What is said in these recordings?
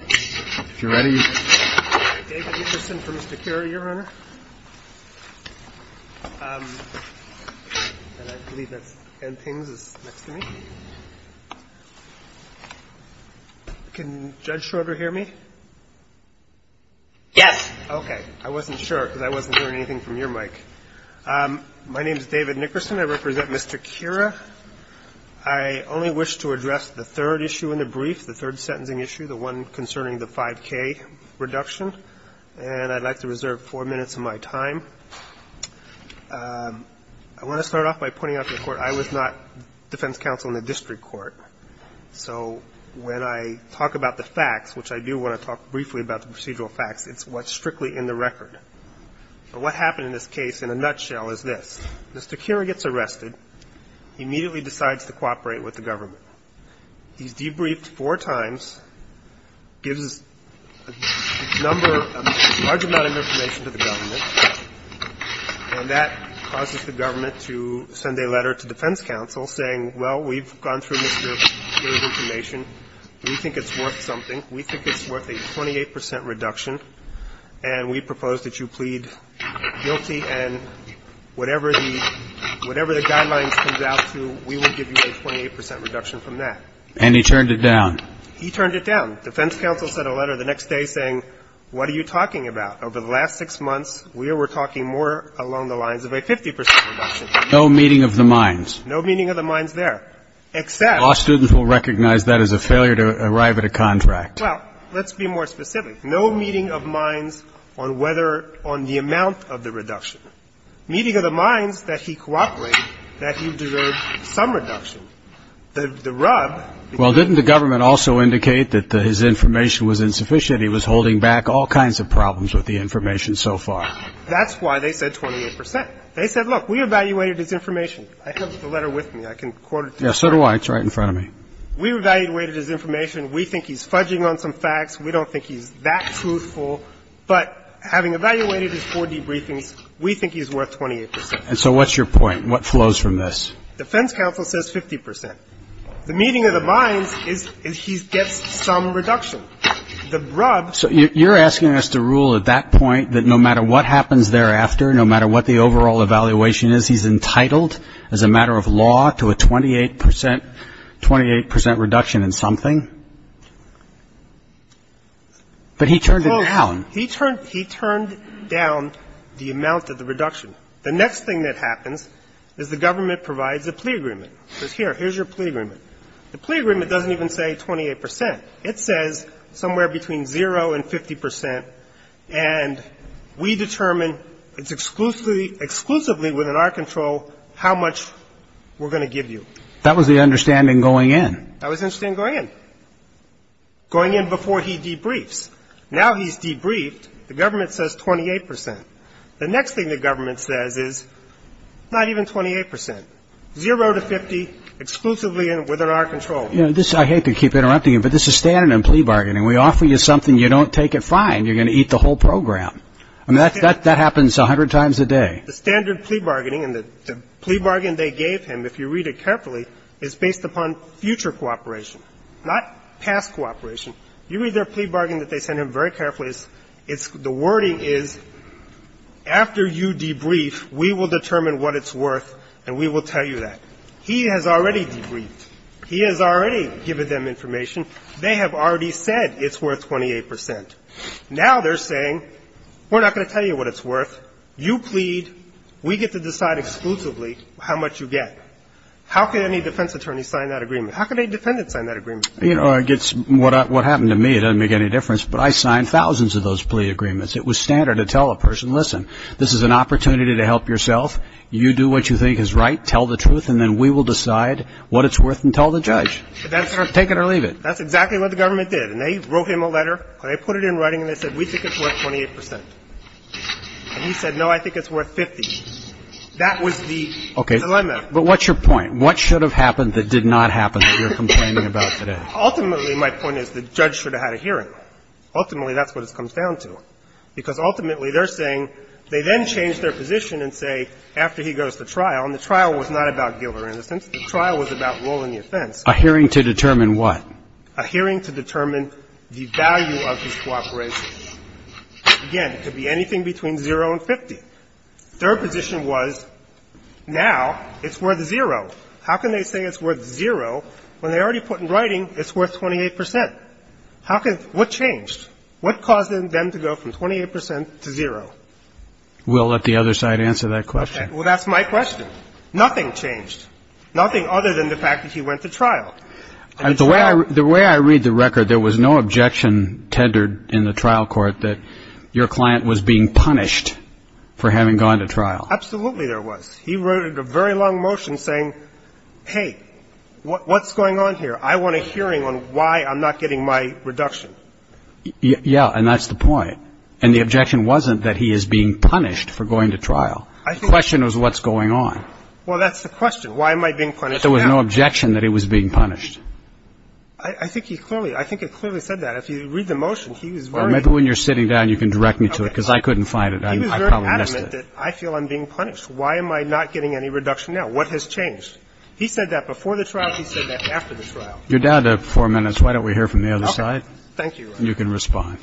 I represent Mr. Khera. I only wish to address the third issue in the brief, the third sentencing issue, the one concerning the 5K reduction, and I'd like to reserve 4 minutes of my time. I want to start off by pointing out to the Court, I was not defense counsel in the district court, so when I talk about the facts, which I do want to talk briefly about the procedural facts, it's what's strictly in the record. But what happened in this case, in a nutshell, is this. Mr. Khera gets arrested. He immediately decides to cooperate with the government. He's debriefed four times, gives a number, a large amount of information to the government, and that causes the government to send a letter to defense counsel saying, well, we've gone through Mr. Khera's information. We think it's worth something. We think it's worth a 28 percent reduction, and we propose that you plead guilty, and whatever the guidelines comes out to, we will give you a 28 percent reduction from that. And he turned it down. He turned it down. Defense counsel sent a letter the next day saying, what are you talking about? Over the last six months, we were talking more along the lines of a 50 percent reduction from that. No meeting of the minds. No meeting of the minds there, except law students will recognize that as a failure to arrive at a contract. Well, let's be more specific. No meeting of minds on whether, on the amount of the reduction. Meeting of the minds that he cooperated that he deserved some reduction. The rub. Well, didn't the government also indicate that his information was insufficient? He was holding back all kinds of problems with the information so far. That's why they said 28 percent. They said, look, we evaluated his information. I have the letter with me. I can quote it to you. Yes, so do I. It's right in front of me. We evaluated his information. We think he's fudging on some facts. We don't think he's that truthful. But having evaluated his four debriefings, we think he's worth 28 percent. And so what's your point? What flows from this? Defense counsel says 50 percent. The meeting of the minds is he gets some reduction. The rub. So you're asking us to rule at that point that no matter what happens thereafter, no matter what the overall evaluation is, he's entitled as a matter of law to a 28 percent reduction in something? But he turned it down. He turned down the amount of the reduction. The next thing that happens is the government provides a plea agreement. It says, here, here's your plea agreement. The plea agreement doesn't even say 28 percent. It says somewhere between zero and 50 percent. And we determine it's exclusively within our control how much we're going to give you. That was the understanding going in. That was the understanding going in. Going in before he debriefs. Now he's debriefed. The government says 28 percent. The next thing the government says is not even 28 percent. Zero to 50, exclusively within our control. You know, I hate to keep interrupting you, but this is standard in plea bargaining. We offer you something, you don't take it fine. You're going to eat the whole program. I mean, that happens 100 times a day. And the standard plea bargaining and the plea bargain they gave him, if you read it carefully, is based upon future cooperation, not past cooperation. You read their plea bargain that they send him very carefully. It's the wording is, after you debrief, we will determine what it's worth and we will tell you that. He has already debriefed. He has already given them information. They have already said it's worth 28 percent. Now they're saying, we're not going to tell you what it's worth. You plead. We get to decide exclusively how much you get. How can any defense attorney sign that agreement? How can a defendant sign that agreement? You know, I guess what happened to me, it doesn't make any difference, but I signed thousands of those plea agreements. It was standard to tell a person, listen, this is an opportunity to help yourself. You do what you think is right, tell the truth, and then we will decide what it's worth and tell the judge. Take it or leave it. That's exactly what the government did. And they wrote him a letter and they put it in writing and they said, we think it's worth 28 percent. And he said, no, I think it's worth 50. That was the dilemma. But what's your point? What should have happened that did not happen that you're complaining about today? Ultimately, my point is the judge should have had a hearing. Ultimately, that's what it comes down to. Because ultimately, they're saying they then change their position and say, after he goes to trial, and the trial was not about guilt or innocence. The trial was about ruling the offense. A hearing to determine what? A hearing to determine the value of his cooperation. Again, it could be anything between 0 and 50. Their position was, now it's worth 0. How can they say it's worth 0 when they already put in writing it's worth 28 percent? How can they – what changed? What caused them to go from 28 percent to 0? We'll let the other side answer that question. Well, that's my question. Nothing changed. Nothing other than the fact that he went to trial. The way I read the record, there was no objection tendered in the trial court that your client was being punished for having gone to trial. Absolutely there was. He wrote a very long motion saying, hey, what's going on here? I want a hearing on why I'm not getting my reduction. Yeah, and that's the point. And the objection wasn't that he is being punished for going to trial. The question was what's going on. Well, that's the question. Why am I being punished now? I thought there was no objection that he was being punished. I think he clearly – I think he clearly said that. If you read the motion, he was very – Well, maybe when you're sitting down, you can direct me to it, because I couldn't find it. I probably missed it. He was very adamant that I feel I'm being punished. Why am I not getting any reduction now? What has changed? He said that before the trial. He said that after the trial. You're down to four minutes. Why don't we hear from the other side? Okay. Thank you, Your Honor. And you can respond.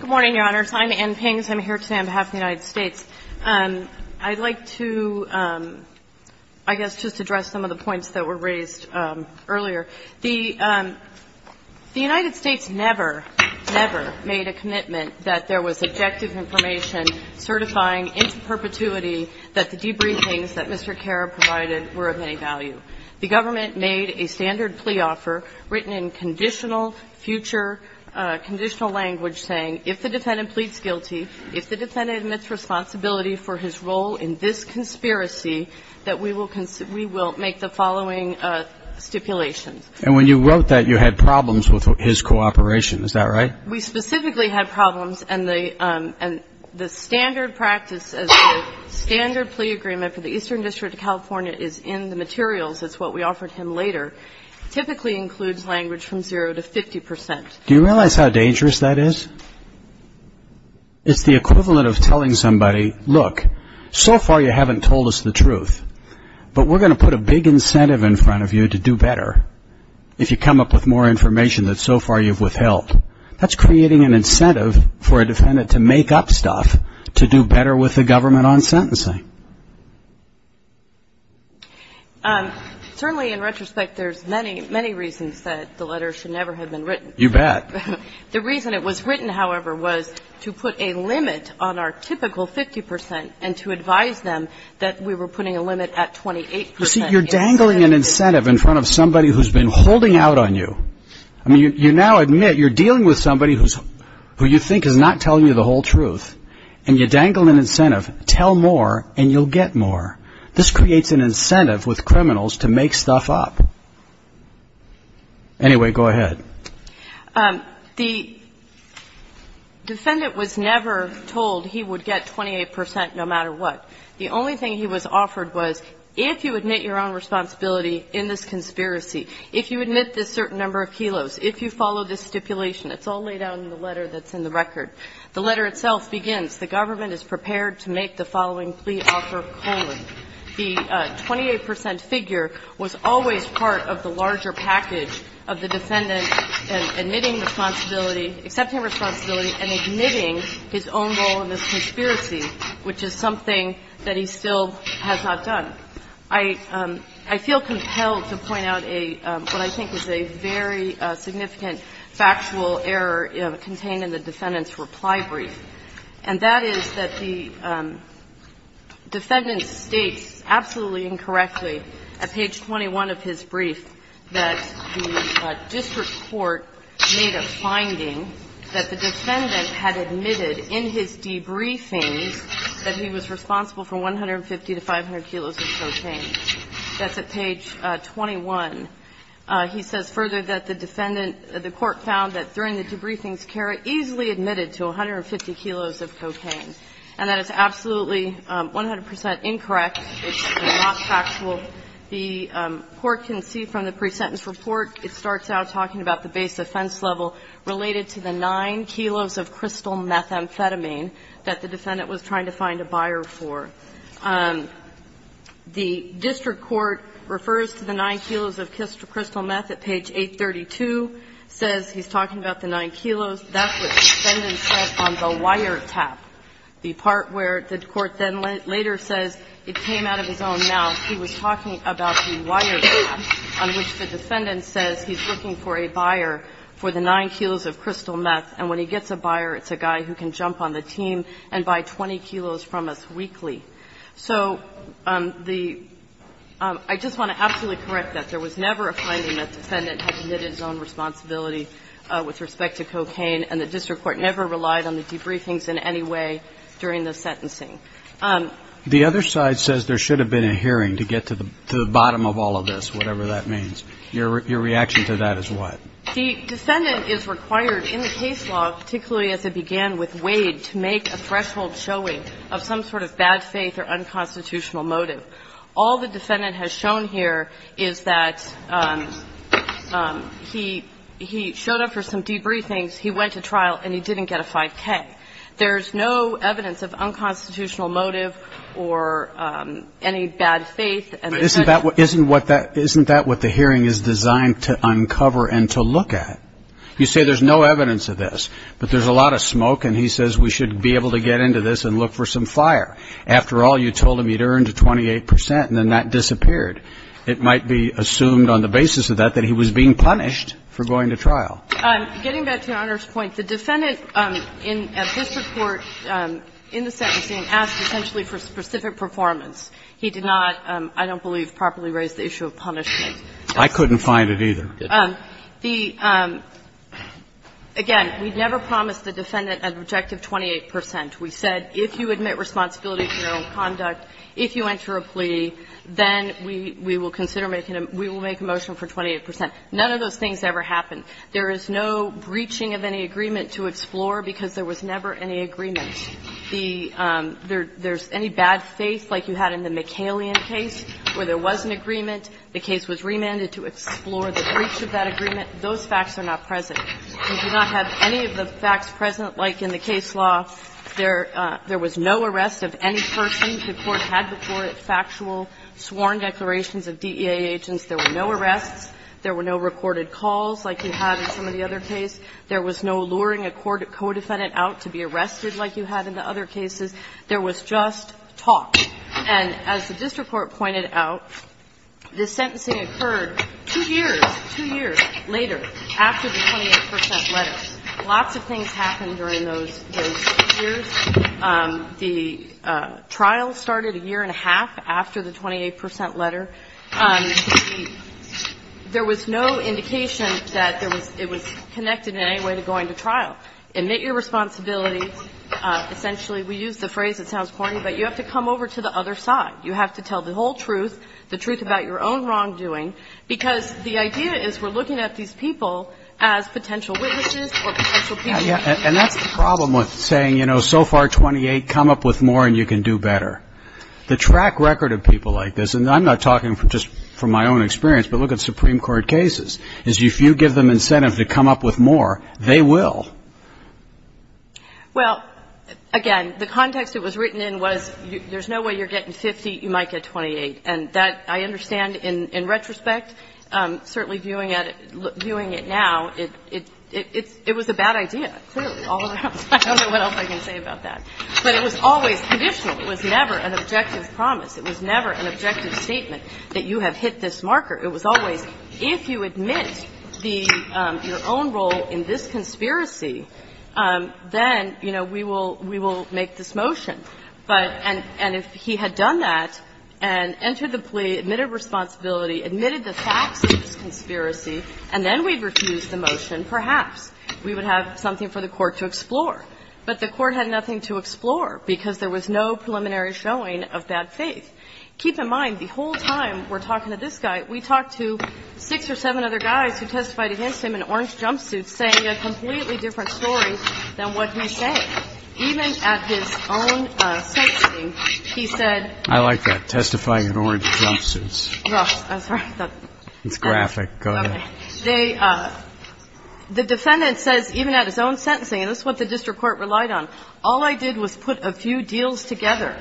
Good morning, Your Honors. I'm Ann Pings. I'm here today on behalf of the United States. I'd like to, I guess, just address some of the points that were raised earlier. The United States never, never made a commitment that there was objective information certifying into perpetuity that the debriefings that Mr. Karab provided were of any value. The government made a standard plea offer written in conditional future – conditional if the defendant pleads guilty, if the defendant admits responsibility for his role in this conspiracy, that we will make the following stipulations. And when you wrote that, you had problems with his cooperation. Is that right? We specifically had problems, and the standard practice, as the standard plea agreement for the Eastern District of California is in the materials. It's what we offered him later. It typically includes language from zero to 50 percent. Do you realize how dangerous that is? It's the equivalent of telling somebody, look, so far you haven't told us the truth, but we're going to put a big incentive in front of you to do better if you come up with more information that so far you've withheld. That's creating an incentive for a defendant to make up stuff to do better with the government on sentencing. Certainly, in retrospect, there's many, many reasons that the letter should never have been written. You bet. The reason it was written, however, was to put a limit on our typical 50 percent and to advise them that we were putting a limit at 28 percent. You see, you're dangling an incentive in front of somebody who's been holding out on you. I mean, you now admit you're dealing with somebody who you think is not telling you the whole truth, and you dangle an incentive, tell more, and you'll get more. This creates an incentive with criminals to make stuff up. Anyway, go ahead. The defendant was never told he would get 28 percent no matter what. The only thing he was offered was if you admit your own responsibility in this conspiracy, if you admit this certain number of kilos, if you follow this stipulation. It's all laid out in the letter that's in the record. The letter itself begins, The government is prepared to make the following plea offer, colon. The 28 percent figure was always part of the larger package of the defendant admitting responsibility, accepting responsibility, and admitting his own role in this conspiracy, which is something that he still has not done. I feel compelled to point out what I think is a very significant factual error contained in the defendant's reply brief, and that is that the defendant states absolutely incorrectly at page 21 of his brief that the district court made a finding that the defendant had admitted in his debriefings that he was responsible for 150 to 500 kilos of protein. That's at page 21. He says further that the defendant, the court found that during the debriefings Cara easily admitted to 150 kilos of cocaine. And that is absolutely 100 percent incorrect. It's not factual. The court can see from the pre-sentence report, it starts out talking about the base offense level related to the 9 kilos of crystal methamphetamine that the defendant was trying to find a buyer for. The district court refers to the 9 kilos of crystal meth at page 832, says he's talking about the 9 kilos. That's what the defendant said on the wiretap, the part where the court then later says it came out of his own mouth. He was talking about the wiretap on which the defendant says he's looking for a buyer for the 9 kilos of crystal meth, and when he gets a buyer, it's a guy who can jump on the team and buy 20 kilos from us weekly. So the – I just want to absolutely correct that. There was never a finding that the defendant had committed his own responsibility with respect to cocaine, and the district court never relied on the debriefings in any way during the sentencing. The other side says there should have been a hearing to get to the bottom of all of this, whatever that means. Your reaction to that is what? The defendant is required in the case law, particularly as it began with Wade, to make a threshold showing of some sort of bad faith or unconstitutional motive. All the defendant has shown here is that he – he showed up for some debriefings, he went to trial, and he didn't get a 5K. There's no evidence of unconstitutional motive or any bad faith. But isn't that what the hearing is designed to uncover and to look at? You say there's no evidence of this, but there's a lot of smoke and he says we should be able to get into this and look for some fire. After all, you told him he'd earned a 28 percent and then that disappeared. It might be assumed on the basis of that that he was being punished for going to trial. Getting back to Your Honor's point, the defendant in the district court in the sentencing asked essentially for specific performance. He did not, I don't believe, properly raise the issue of punishment. I couldn't find it either. The – again, we never promised the defendant an objective 28 percent. We said if you admit responsibility for your own conduct, if you enter a plea, then we will consider making a – we will make a motion for 28 percent. None of those things ever happened. There is no breaching of any agreement to explore because there was never any agreement. The – there's any bad faith like you had in the McCallion case where there was an agreement, the case was remanded to explore the breach of that agreement, those facts are not present. We do not have any of the facts present like in the case law. There was no arrest of any person. The Court had before it factual sworn declarations of DEA agents. There were no arrests. There were no recorded calls like you had in some of the other cases. There was no luring a co-defendant out to be arrested like you had in the other cases. There was just talk. And as the district court pointed out, the sentencing occurred two years, two years later, after the 28 percent letter. Lots of things happened during those years. The trial started a year and a half after the 28 percent letter. There was no indication that there was – it was connected in any way to going to trial. Admit your responsibility. Essentially, we use the phrase, it sounds corny, but you have to come over to the other side. You have to tell the whole truth, the truth about your own wrongdoing, because the idea is we're looking at these people as potential witnesses or potential people. And that's the problem with saying, you know, so far 28, come up with more and you can do better. The track record of people like this, and I'm not talking just from my own experience, but look at Supreme Court cases, is if you give them incentive to come up with more, they will. Well, again, the context it was written in was there's no way you're getting 50, you might get 28. And that, I understand, in retrospect, certainly viewing it now, it was a bad idea, clearly, all around. I don't know what else I can say about that. But it was always conditional. It was never an objective promise. It was never an objective statement that you have hit this marker. It was always, if you admit your own role in this conspiracy, then, you know, we will make this motion. And if he had done that and entered the plea, admitted responsibility, admitted the facts of this conspiracy, and then we refused the motion, perhaps we would have something for the Court to explore. But the Court had nothing to explore, because there was no preliminary showing of bad faith. Keep in mind, the whole time we're talking to this guy, we talked to six or seven other guys who testified against him in orange jumpsuits saying a completely different story than what he said. Even at his own sentencing, he said... I like that, testifying in orange jumpsuits. I'm sorry. It's graphic. Go ahead. The defendant says, even at his own sentencing, and this is what the district court relied on, all I did was put a few deals together.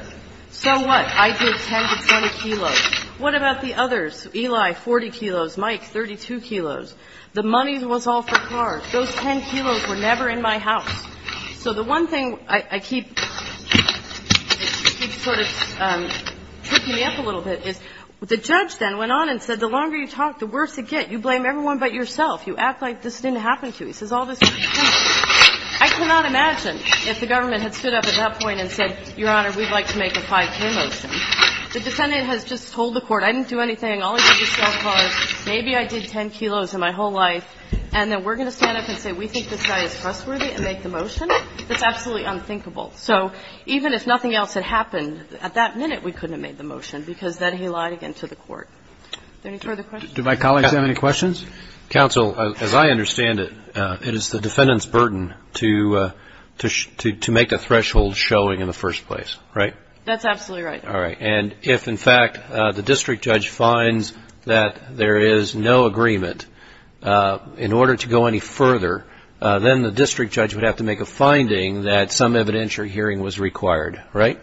So what? I did 10 to 20 kilos. What about the others? Eli, 40 kilos. Mike, 32 kilos. The money was all for cars. Those 10 kilos were never in my house. So the one thing I keep sort of tripping me up a little bit is the judge then went on and said, the longer you talk, the worse it gets. You blame everyone but yourself. You act like this didn't happen to you. He says all this... I cannot imagine if the government had stood up at that point and said, Your Honor, we'd like to make a 5K motion. The defendant has just told the Court, I didn't do anything, all I did was sell cars, maybe I did 10 kilos in my whole life, and then we're going to stand up and say we think this guy is trustworthy and make the motion? That's absolutely unthinkable. So even if nothing else had happened, at that minute we couldn't have made the Do my colleagues have any questions? Counsel, as I understand it, it is the defendant's burden to make the threshold showing in the first place, right? That's absolutely right. All right. And if, in fact, the district judge finds that there is no agreement, in order to go any further, then the district judge would have to make a finding that some evidentiary hearing was required, right?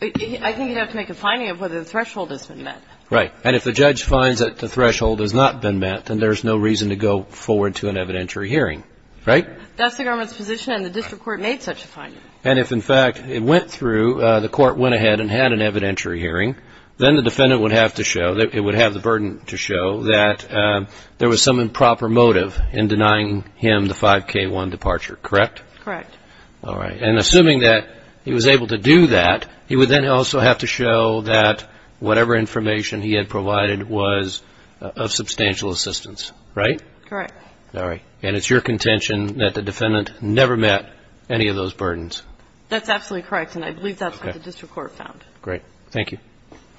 I think he'd have to make a finding of whether the threshold has been met. Right. And if the judge finds that the threshold has not been met, then there's no reason to go forward to an evidentiary hearing, right? That's the government's position and the district court made such a finding. And if, in fact, it went through, the court went ahead and had an evidentiary hearing, then the defendant would have to show, it would have the burden to show that there was some improper motive in denying him the 5K-1 departure, correct? Correct. All right. And assuming that he was able to do that, he would then also have to show that whatever information he had provided was of substantial assistance, right? Correct. All right. And it's your contention that the defendant never met any of those burdens. That's absolutely correct, and I believe that's what the district court found. Great. Thank you.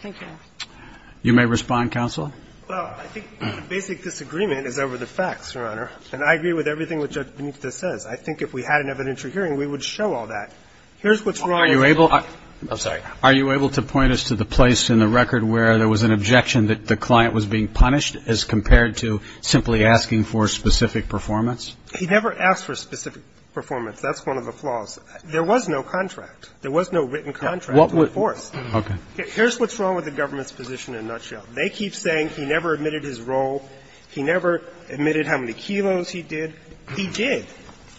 Thank you. You may respond, counsel. Well, I think the basic disagreement is over the facts, Your Honor, and I agree with everything what Judge Benifte says. I think if we had an evidentiary hearing, we would show all that. Here's what's wrong with the government. I'm sorry. Are you able to point us to the place in the record where there was an objection that the client was being punished as compared to simply asking for specific performance? He never asked for specific performance. That's one of the flaws. There was no contract. There was no written contract to enforce. Okay. Here's what's wrong with the government's position in a nutshell. They keep saying he never admitted his role. He never admitted how many kilos he did. He did.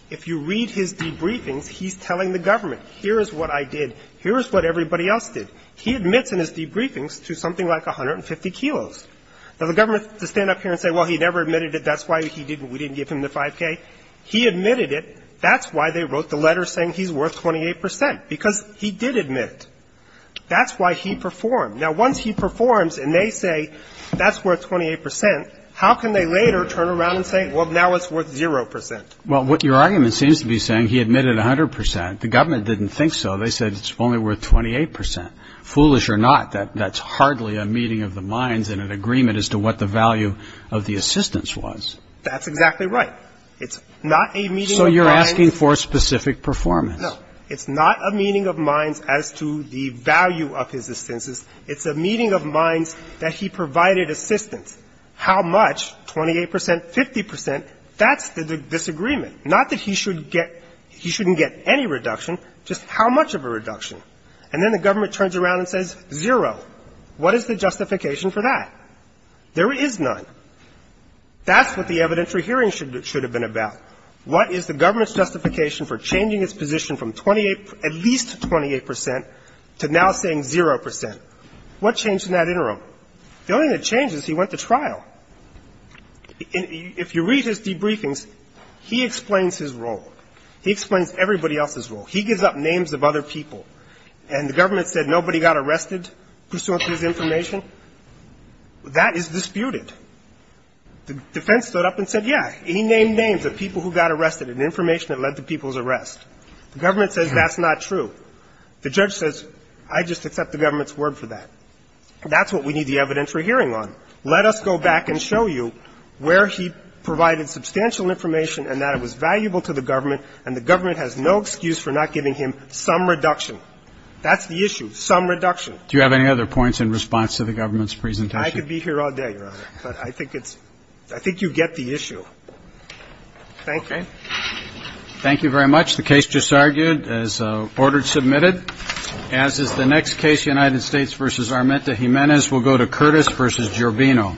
If you read his debriefings, he's telling the government, here is what I did, here is what everybody else did. He admits in his debriefings to something like 150 kilos. Now, the government can stand up here and say, well, he never admitted it, that's why we didn't give him the 5K. He admitted it. That's why they wrote the letter saying he's worth 28 percent, because he did admit it. That's why he performed. Now, once he performs and they say that's worth 28 percent, how can they later turn Well, what your argument seems to be saying, he admitted 100 percent. The government didn't think so. They said it's only worth 28 percent. Foolish or not, that's hardly a meeting of the minds and an agreement as to what the value of the assistance was. That's exactly right. It's not a meeting of minds. So you're asking for specific performance. No. It's not a meeting of minds as to the value of his assistance. It's a meeting of minds that he provided assistance. How much? 28 percent? 50 percent? That's the disagreement. Not that he should get — he shouldn't get any reduction, just how much of a reduction. And then the government turns around and says zero. What is the justification for that? There is none. That's what the evidentiary hearing should have been about. What is the government's justification for changing its position from 28 — at least 28 percent to now saying zero percent? What changed in that interim? The only thing that changes is he went to trial. If you read his debriefings, he explains his role. He explains everybody else's role. He gives up names of other people. And the government said nobody got arrested pursuant to his information. That is disputed. The defense stood up and said, yeah, he named names of people who got arrested and information that led to people's arrest. The government says that's not true. The judge says, I just accept the government's word for that. That's what we need the evidentiary hearing on. So let us go back and show you where he provided substantial information and that it was valuable to the government, and the government has no excuse for not giving him some reduction. That's the issue, some reduction. Do you have any other points in response to the government's presentation? I could be here all day, Your Honor, but I think it's — I think you get the issue. Thank you. Okay. Thank you very much. The case just argued as ordered, submitted. As is the next case, United States v. Armenta-Jimenez. This will go to Curtis v. Giorbino.